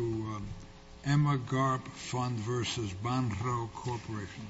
to Emma Garp Fund versus Banro Corporation.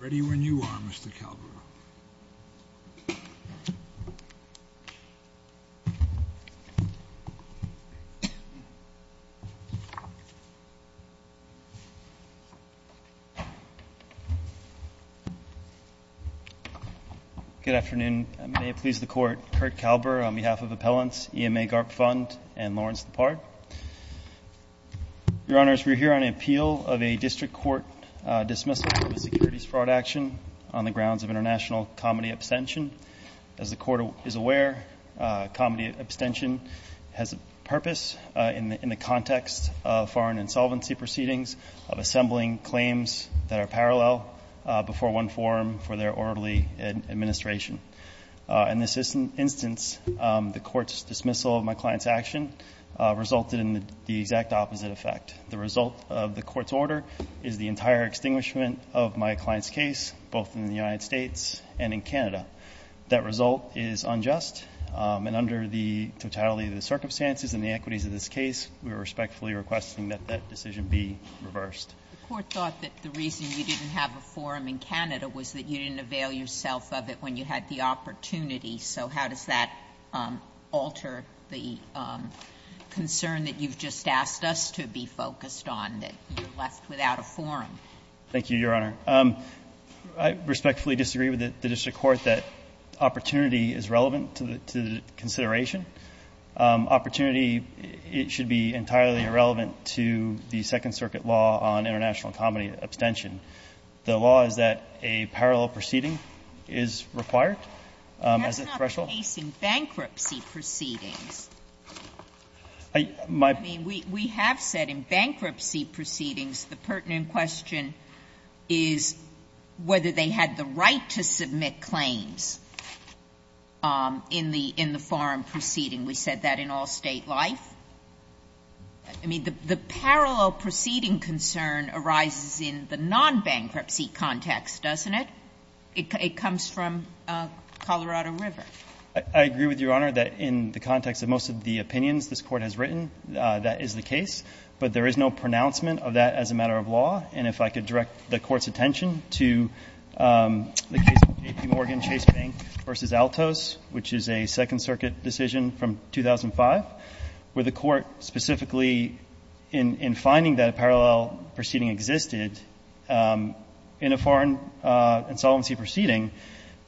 Ready when you are, Mr. Kalbera. Good afternoon. May it please the Court. Kurt Kalber on behalf of Appellants, EMA Garp Fund, and Lawrence Depard. Your Honors, we're here on appeal of a district court dismissal of a securities fraud action on the grounds of international comedy abstention. As the Court is aware, comedy abstention has a purpose in the context of foreign insolvency proceedings, of assembling claims that are parallel before one forum for their orderly administration. In this instance, the Court's dismissal of my client's action resulted in the exact opposite effect. The result of the Court's order is the entire extinguishment of my client's case, both in the United States and in Canada. That result is unjust, and under the totality of the circumstances and the equities of this case, we are respectfully requesting that that decision be reversed. The Court thought that the reason you didn't have a forum in Canada was that you didn't avail yourself of it when you had the opportunity. So how does that alter the concern that you've just asked us to be focused on, that you left without a forum? Thank you, Your Honor. I respectfully disagree with the district court that opportunity is relevant to the consideration. Opportunity, it should be entirely irrelevant to the Second Circuit law on international comedy abstention. The law is that a parallel proceeding is required. That's not the case in bankruptcy proceedings. I mean, we have said in bankruptcy proceedings the pertinent question is whether they had the right to submit claims in the forum proceeding. We said that in all State life. I mean, the parallel proceeding concern arises in the non-bankruptcy context, doesn't it? It comes from Colorado River. I agree with Your Honor that in the context of most of the opinions this Court has written, that is the case. But there is no pronouncement of that as a matter of law. And if I could direct the Court's attention to the case of J.P. Morgan Chase Bank v. Altos, which is a Second Circuit decision from 2005, where the Court specifically in finding that a parallel proceeding existed in a foreign insolvency proceeding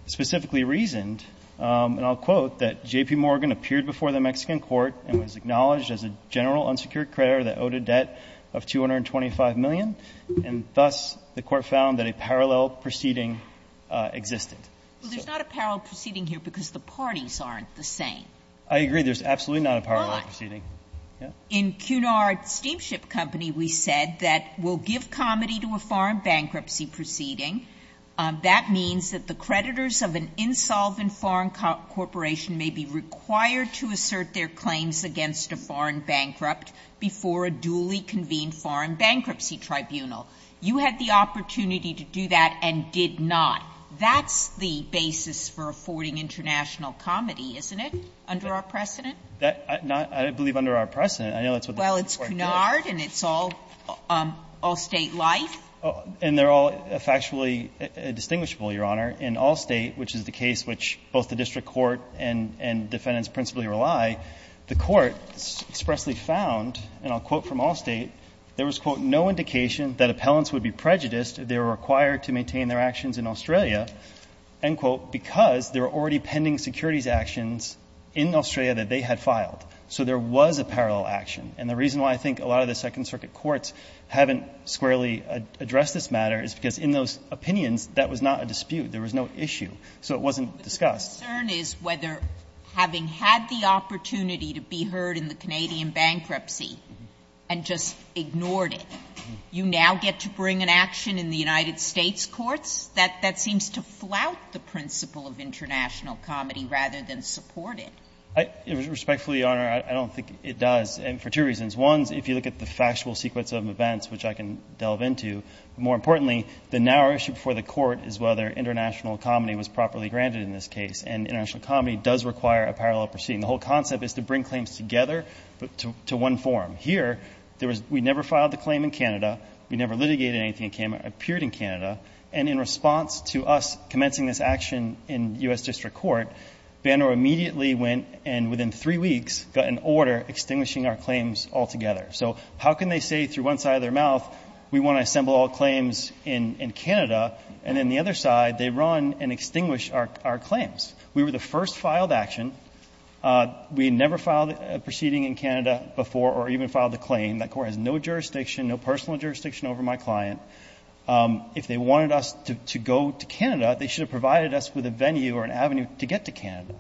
specifically reasoned, and I'll quote, that J.P. Morgan appeared before the Mexican court and was acknowledged as a general unsecured creditor that owed a debt of $225 million, and thus the Court found that a parallel proceeding existed. Well, there's not a parallel proceeding here because the parties aren't the same. I agree. There's absolutely not a parallel proceeding. In Cunard Steamship Company, we said that we'll give comity to a foreign bankruptcy proceeding. That means that the creditors of an insolvent foreign corporation may be required to assert their claims against a foreign bankrupt before a duly convened foreign bankruptcy tribunal. You had the opportunity to do that and did not. That's the basis for affording international comity, isn't it, under our precedent? I believe under our precedent. I know that's what the Court did. Well, it's Cunard and it's all state-like. And they're all factually distinguishable, Your Honor. In Allstate, which is the case which both the district court and defendants principally rely, the Court expressly found, and I'll quote from Allstate, there was, quote, no indication that appellants would be prejudiced if they were required to maintain their actions in Australia, end quote, because there were already pending securities actions in Australia that they had filed. So there was a parallel action. And the reason why I think a lot of the Second Circuit courts haven't squarely addressed this matter is because in those opinions, that was not a dispute. There was no issue. So it wasn't discussed. But the concern is whether having had the opportunity to be heard in the Canadian bankruptcy and just ignored it, you now get to bring an action in the United States courts? That seems to flout the principle of international comedy rather than support it. Respectfully, Your Honor, I don't think it does, and for two reasons. One, if you look at the factual sequence of events, which I can delve into, more importantly, the narrow issue before the Court is whether international comedy was properly granted in this case. And international comedy does require a parallel proceeding. The whole concept is to bring claims together to one forum. Here, there was we never filed the claim in Canada, we never litigated anything that appeared in Canada, and in response to us commencing this action in U.S. District Court, Banner immediately went and within three weeks got an order extinguishing our claims altogether. So how can they say through one side of their mouth, we want to assemble all claims in Canada, and then the other side, they run and extinguish our claims? We were the first filed action. We had never filed a proceeding in Canada before or even filed a claim. That Court has no jurisdiction, no personal jurisdiction over my client. If they wanted us to go to Canada, they should have provided us with a venue or an avenue to get to Canada,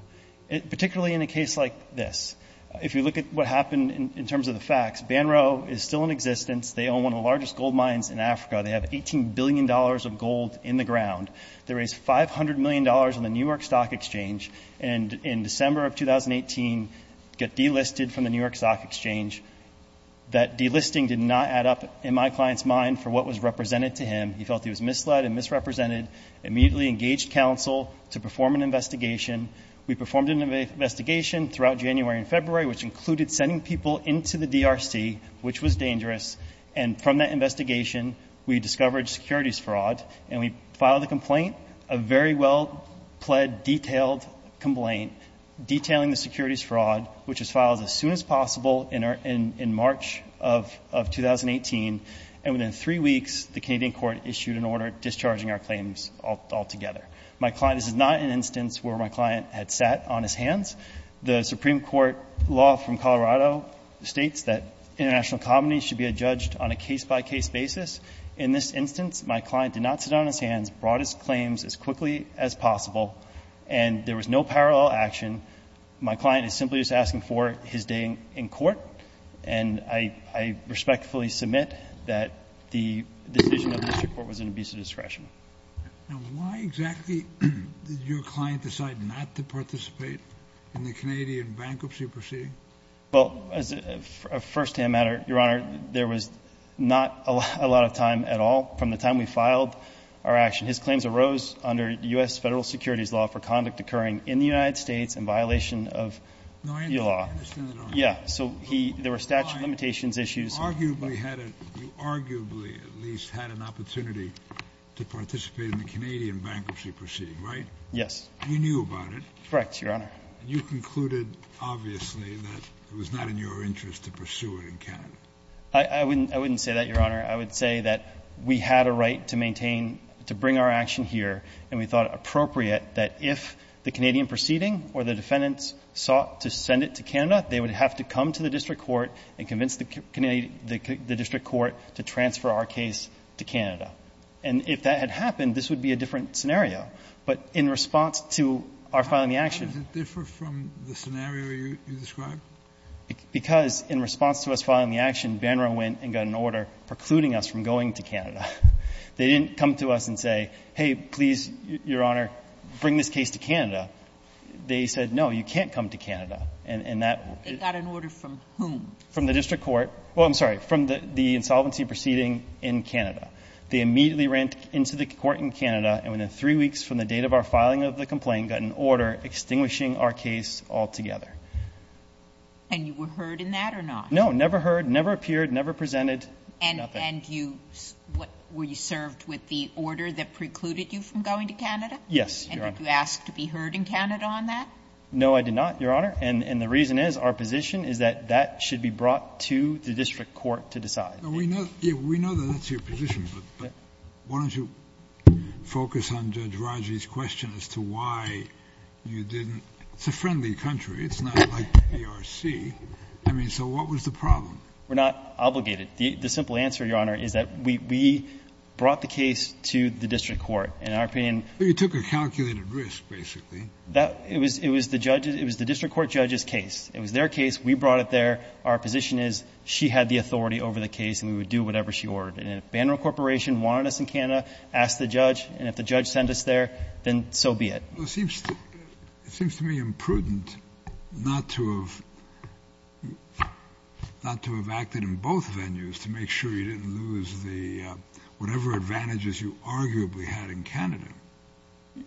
particularly in a case like this. If you look at what happened in terms of the facts, Banro is still in existence. They own one of the largest gold mines in Africa. They have $18 billion of gold in the ground. They raised $500 million on the New York Stock Exchange, and in December of 2018, got delisted from the New York Stock Exchange. That delisting did not add up in my client's mind for what was represented to him. He felt he was misled and misrepresented. Immediately engaged counsel to perform an investigation. We performed an investigation throughout January and February, which included sending people into the DRC, which was dangerous. And from that investigation, we discovered securities fraud, and we filed a complaint, a very well-pled, detailed complaint, detailing the securities fraud, which was filed as soon as possible in March of 2018. And within three weeks, the Canadian court issued an order discharging our claims altogether. This is not an instance where my client had sat on his hands. The Supreme Court law from Colorado states that international companies should be judged on a case-by-case basis. In this instance, my client did not sit on his hands, brought his claims as quickly as possible, and there was no parallel action. My client is simply just asking for his day in court, and I respectfully submit that the decision of the district court was an abuse of discretion. And why exactly did your client decide not to participate in the Canadian bankruptcy proceeding? Well, as a firsthand matter, Your Honor, there was not a lot of time at all from the time we filed our action. His claims arose under U.S. federal securities law for conduct occurring in the United States in violation of the law. No, I understand that. Yeah. So there were statute of limitations issues. But my client arguably had a – you arguably at least had an opportunity to participate in the Canadian bankruptcy proceeding, right? Yes. You knew about it. Correct, Your Honor. And you concluded, obviously, that it was not in your interest to pursue it in Canada. I wouldn't say that, Your Honor. I would say that we had a right to maintain, to bring our action here, and we thought it appropriate that if the Canadian proceeding or the defendants sought to send it to Canada, they would have to come to the district court and convince the district court to transfer our case to Canada. And if that had happened, this would be a different scenario. But in response to our filing the action – How does it differ from the scenario you described? Because in response to us filing the action, Banro went and got an order precluding us from going to Canada. They didn't come to us and say, hey, please, Your Honor, bring this case to Canada. They said, no, you can't come to Canada. And that – They got an order from whom? From the district court. Well, I'm sorry, from the insolvency proceeding in Canada. They immediately ran into the court in Canada, and within three weeks from the date of our filing of the complaint, got an order extinguishing our case altogether. And you were heard in that or not? No, never heard, never appeared, never presented, nothing. And you – were you served with the order that precluded you from going to Canada? Yes, Your Honor. And did you ask to be heard in Canada on that? No, I did not, Your Honor. And the reason is, our position is that that should be brought to the district court to decide. We know that that's your position, but why don't you focus on Judge Raji's question as to why you didn't? It's a friendly country. It's not like the D.R.C. I mean, so what was the problem? We're not obligated. The simple answer, Your Honor, is that we brought the case to the district court. In our opinion – But you took a calculated risk, basically. It was the district court judge's case. It was their case. We brought it there. Our position is, she had the authority over the case, and we would do whatever she ordered. And if Banner Corporation wanted us in Canada, ask the judge, and if the judge sent us there, then so be it. It seems to me imprudent not to have acted in both venues to make sure you didn't lose the – whatever advantages you arguably had in Canada.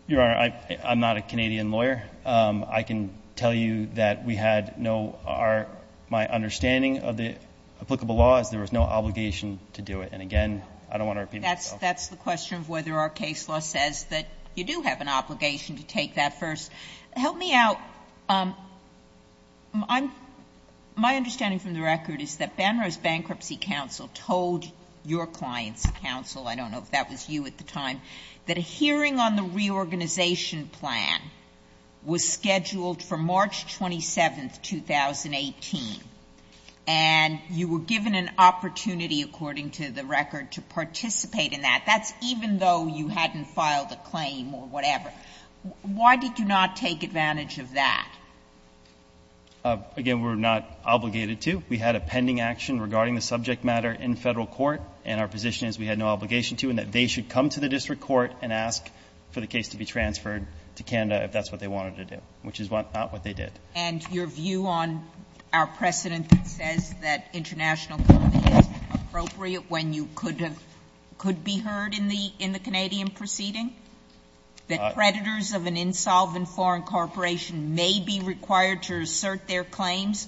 Your Honor, I'm not a Canadian lawyer. I can tell you that we had no – my understanding of the applicable law is there was no obligation to do it. And, again, I don't want to repeat myself. That's the question of whether our case law says that you do have an obligation to take that first. Help me out. My understanding from the record is that Banner's bankruptcy counsel told your client's counsel – I don't know if that was you at the time – that a hearing on the reorganization plan was scheduled for March 27, 2018. And you were given an opportunity, according to the record, to participate in that. That's even though you hadn't filed a claim or whatever. Why did you not take advantage of that? Again, we were not obligated to. We had a pending action regarding the subject matter in federal court, and our position is we had no obligation to, and that they should come to the district court and ask for the case to be transferred to Canada if that's what they wanted to do, which is not what they did. And your view on our precedent that says that international company is appropriate when you could be heard in the Canadian proceeding, that creditors of an insolvent foreign corporation may be required to assert their claims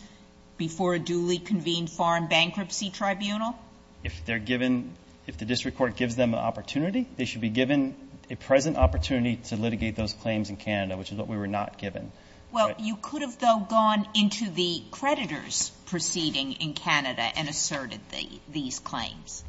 before a duly convened foreign bankruptcy tribunal? If they're given – if the district court gives them an opportunity, they should be given a present opportunity to litigate those claims in Canada, which is what we were not given. Well, you could have, though, gone into the creditors' proceeding in Canada and asserted these claims.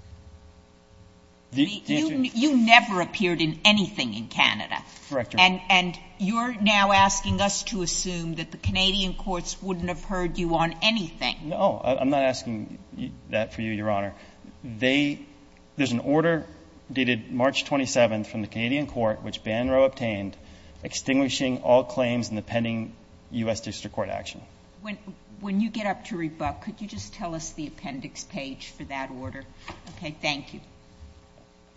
You never appeared in anything in Canada. Correct, Your Honor. And you're now asking us to assume that the Canadian courts wouldn't have heard you on anything. No. I'm not asking that for you, Your Honor. They – there's an order dated March 27th from the Canadian court which Banro obtained extinguishing all claims in the pending U.S. district court action. When you get up to rebut, could you just tell us the appendix page for that order? Okay. Thank you.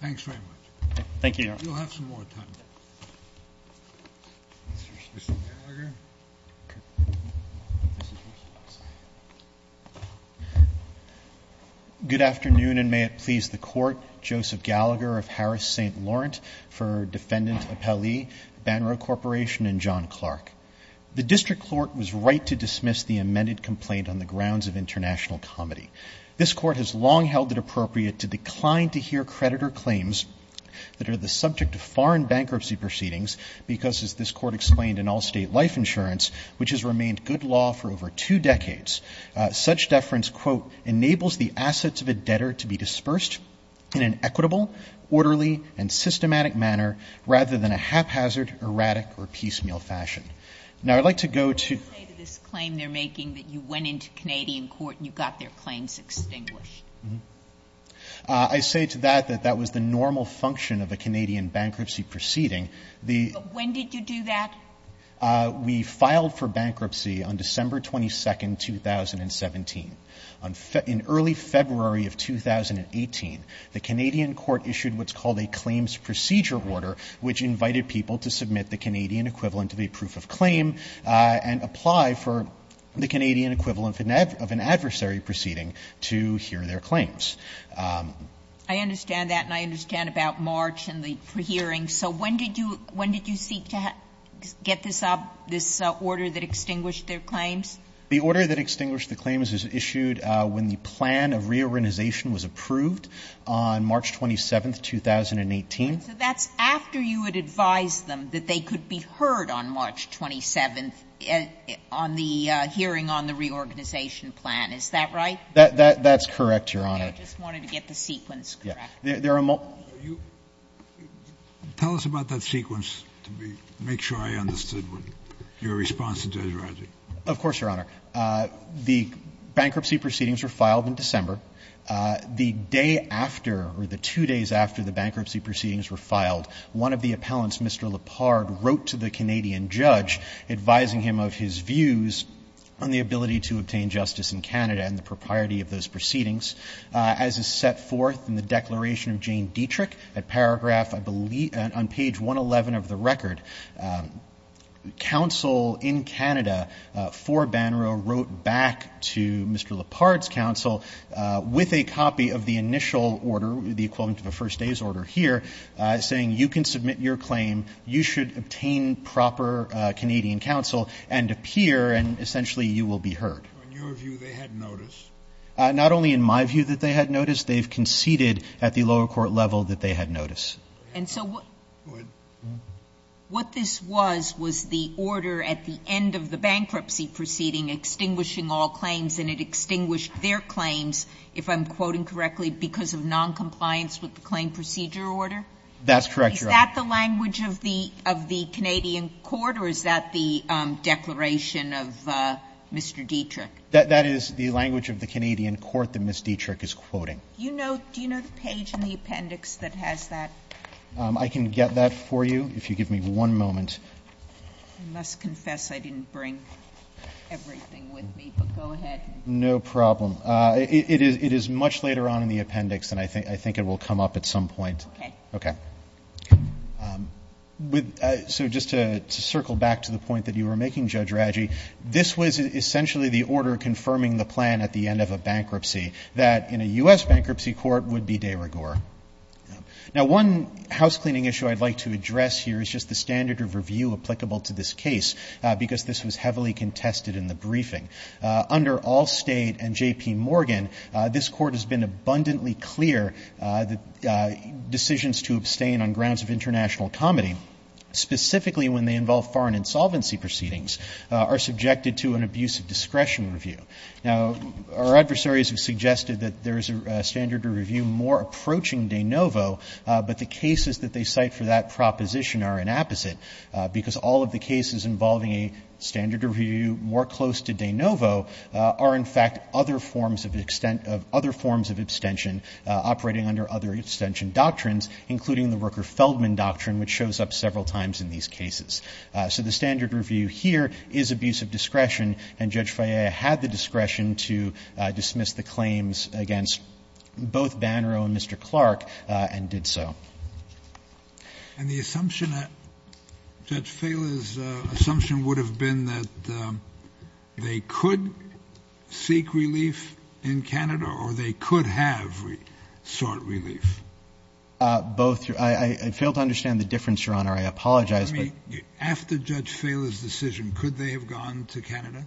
Thanks very much. Thank you, Your Honor. You'll have some more time. Mr. Gallagher. Good afternoon, and may it please the Court. Joseph Gallagher of Harris St. Laurent for Defendant Appellee, Banro Corporation and John Clark. The district court was right to dismiss the amended complaint on the grounds of international comedy. This Court has long held it appropriate to decline to hear creditor claims that are the subject of foreign bankruptcy proceedings because, as this Court explained in all state life insurance, which has remained good law for over two decades, such deference, quote, enables the assets of a debtor to be dispersed in an equitable, orderly, and systematic manner rather than a haphazard, erratic, or piecemeal fashion. Now, I'd like to go to – What would you say to this claim they're making that you went into Canadian court and you got their claims extinguished? I say to that that that was the normal function of a Canadian bankruptcy proceeding. When did you do that? We filed for bankruptcy on December 22, 2017. In early February of 2018, the Canadian court issued what's called a claims procedure order, which invited people to submit the Canadian equivalent of a proof of claim and apply for the Canadian equivalent of an adversary proceeding to hear their claims. I understand that, and I understand about March and the pre-hearing. So when did you seek to get this up, this order that extinguished their claims? The order that extinguished the claims was issued when the plan of reorganization was approved on March 27, 2018. So that's after you had advised them that they could be heard on March 27 on the hearing on the reorganization plan. Is that right? That's correct, Your Honor. I just wanted to get the sequence correct. Tell us about that sequence to make sure I understood your response to Desiraji. Of course, Your Honor. The bankruptcy proceedings were filed in December. The day after, or the two days after the bankruptcy proceedings were filed, one of the appellants, Mr. Lippard, wrote to the Canadian judge advising him of his views on the ability to obtain justice in Canada and the propriety of those proceedings. As is set forth in the Declaration of Jane Dietrich, at paragraph, I believe on page 111 of the record, counsel in Canada for Bannereau wrote back to Mr. Lippard's counsel with a copy of the initial order, the equivalent of a first day's order here, saying you can submit your claim, you should obtain proper Canadian counsel and appear and essentially you will be heard. On your view, they had notice? Not only in my view that they had notice, they've conceded at the lower court level that they had notice. And so what this was, was the order at the end of the bankruptcy proceeding extinguishing all claims and it extinguished their claims, if I'm quoting correctly, because of noncompliance with the claim procedure order? That's correct, Your Honor. Is that the language of the Canadian court or is that the declaration of Mr. Dietrich? That is the language of the Canadian court that Ms. Dietrich is quoting. Do you know the page in the appendix that has that? I can get that for you if you give me one moment. I must confess I didn't bring everything with me, but go ahead. No problem. It is much later on in the appendix and I think it will come up at some point. Okay. So just to circle back to the point that you were making, Judge Raggi, this was essentially the order confirming the plan at the end of a bankruptcy that in a U.S. bankruptcy court would be de rigueur. Now one housecleaning issue I'd like to address here is just the standard of review applicable to this case because this was heavily contested in the briefing. Under Allstate and J.P. Morgan, this Court has been abundantly clear that decisions to abstain on grounds of international comedy, specifically when they involve foreign insolvency proceedings, are subjected to an abuse of discretion review. Now, our adversaries have suggested that there is a standard of review more approaching de novo, but the cases that they cite for that proposition are an opposite because all of the cases involving a standard of review more close to de novo are, in fact, other forms of extent of other forms of abstention operating under other abstention doctrines, including the Rooker-Feldman doctrine, which shows up several times in these cases. So the standard review here is abuse of discretion, and Judge Fallea had the discretion to dismiss the claims against both Bannero and Mr. Clark and did so. And the assumption that Judge Fallea's assumption would have been that they could seek relief in Canada or they could have sought relief. Both. I fail to understand the difference, Your Honor. I apologize. After Judge Fallea's decision, could they have gone to Canada?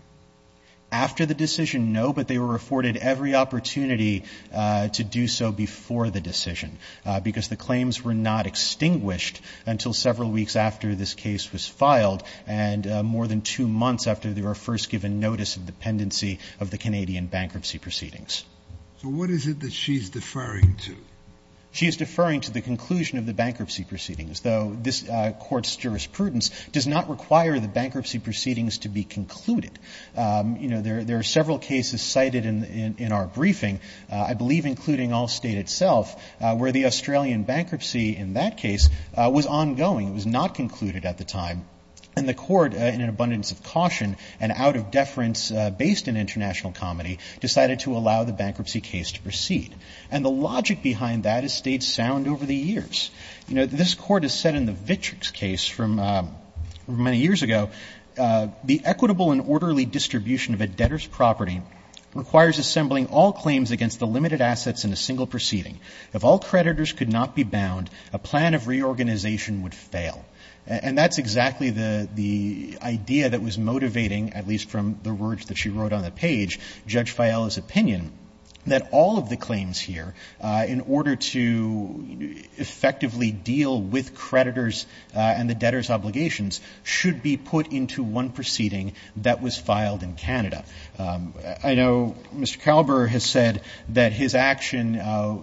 After the decision, no, but they were afforded every opportunity to do so before the decision because the claims were not extinguished until several weeks after this case was filed and more than two months after they were first given notice of dependency of the Canadian bankruptcy proceedings. So what is it that she's deferring to? She is deferring to the conclusion of the bankruptcy proceedings, though this Court's jurisprudence does not require the bankruptcy proceedings to be concluded. You know, there are several cases cited in our briefing, I believe including Allstate itself, where the Australian bankruptcy in that case was ongoing. It was not concluded at the time. And the Court, in an abundance of caution and out of deference based in international comedy, decided to allow the bankruptcy case to proceed. And the logic behind that has stayed sound over the years. You know, this Court has said in the Vitrix case from many years ago, the equitable and orderly distribution of a debtor's property requires assembling all claims against the limited assets in a single proceeding. If all creditors could not be bound, a plan of reorganization would fail. And that's exactly the idea that was motivating, at least from the words that she wrote on the page, Judge Fiala's opinion, that all of the claims here, in order to effectively deal with creditors and the debtors' obligations, should be put into one proceeding that was filed in Canada. I know Mr. Kalber has said that his action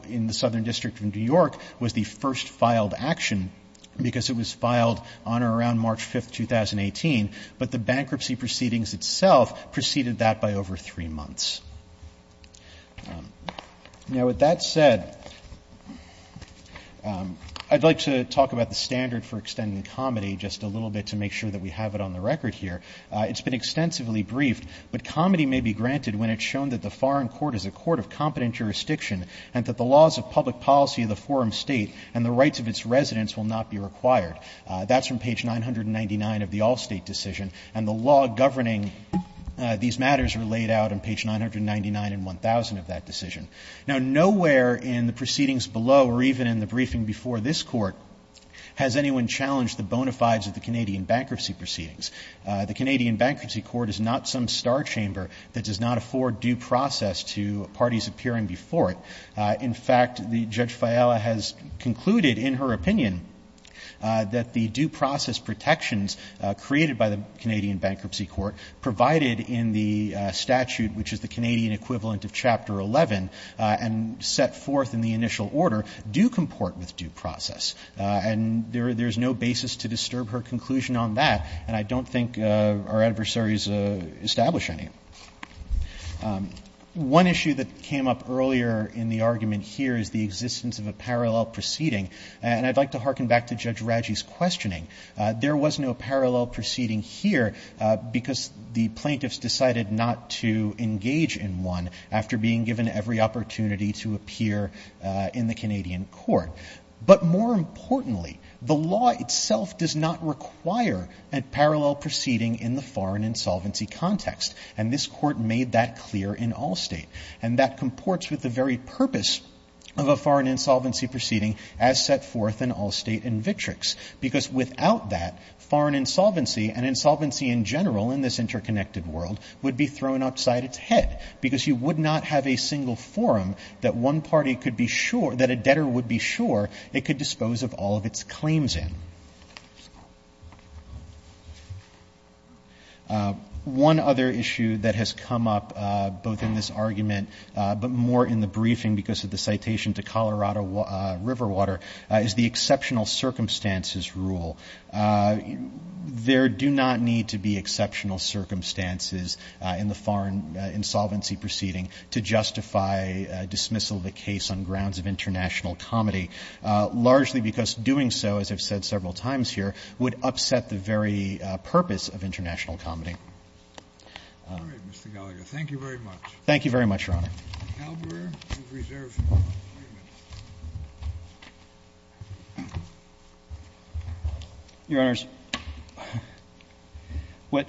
in the Southern District of New York was the first filed action because it was filed on or around March 5, 2018. But the bankruptcy proceedings itself preceded that by over three months. Now, with that said, I'd like to talk about the standard for extending comedy just a little bit to make sure that we have it on the record here. It's been extensively briefed, but comedy may be granted when it's shown that the foreign court is a court of competent jurisdiction and that the laws of public policy of the foreign state and the rights of its residents will not be required. That's from page 999 of the Allstate decision. And the law governing these matters are laid out on page 999 and 1000 of that decision. Now, nowhere in the proceedings below or even in the briefing before this Court has anyone challenged the bona fides of the Canadian bankruptcy proceedings. The Canadian Bankruptcy Court is not some star chamber that does not afford due process to parties appearing before it. In fact, Judge Fiala has concluded in her opinion that the due process protections created by the Canadian Bankruptcy Court provided in the statute, which is the Canadian equivalent of Chapter 11, and set forth in the initial order, do comport with due process. And there's no basis to disturb her conclusion on that, and I don't think our adversaries establish any. One issue that came up earlier in the argument here is the existence of a parallel proceeding. And I'd like to hearken back to Judge Raggi's questioning. There was no parallel proceeding here because the plaintiffs decided not to engage in one after being given every opportunity to appear in the Canadian court. But more importantly, the law itself does not require a parallel proceeding in the foreign insolvency context. And this Court made that clear in Allstate. And that comports with the very purpose of a foreign insolvency proceeding as set forth in Allstate and Vitrix. Because without that, foreign insolvency and insolvency in general in this interconnected world would be thrown outside its head because you would not have a single forum that one party could be sure, that a debtor would be sure it could dispose of all of its claims in. One other issue that has come up both in this argument but more in the briefing because of the citation to Colorado Riverwater is the exceptional circumstances rule. There do not need to be exceptional circumstances in the foreign insolvency proceeding to justify dismissal of a case on grounds of international comedy, largely because doing so, as I've said several times here, would upset the very purpose of international comedy. All right, Mr. Gallagher. Thank you very much. Thank you very much, Your Honor. Calabreau will reserve three minutes. Your Honors, what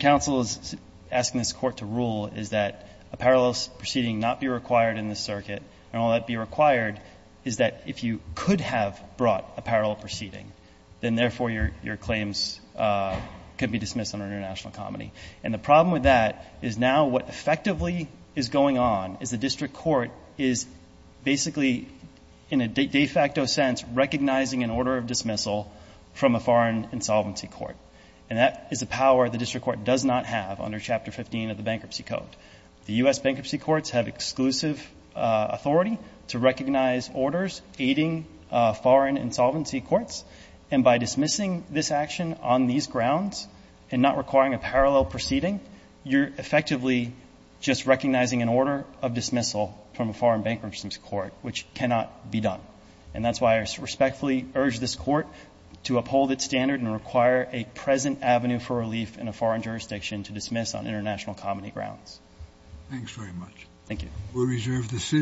counsel is asking this Court to rule is that a parallel proceeding not be required in this circuit, and all that be required is that if you could have brought a parallel proceeding, then therefore your claims could be dismissed under international comedy. And the problem with that is now what effectively is going on is the district court is basically in a de facto sense recognizing an order of dismissal from a foreign insolvency court. And that is a power the district court does not have under Chapter 15 of the Bankruptcy Act. The U.S. bankruptcy courts have exclusive authority to recognize orders aiding foreign insolvency courts, and by dismissing this action on these grounds and not requiring a parallel proceeding, you're effectively just recognizing an order of dismissal from a foreign bankruptcy court, which cannot be done. And that's why I respectfully urge this Court to uphold its standard and require a Thanks very much. Thank you. We'll reserve the sitting.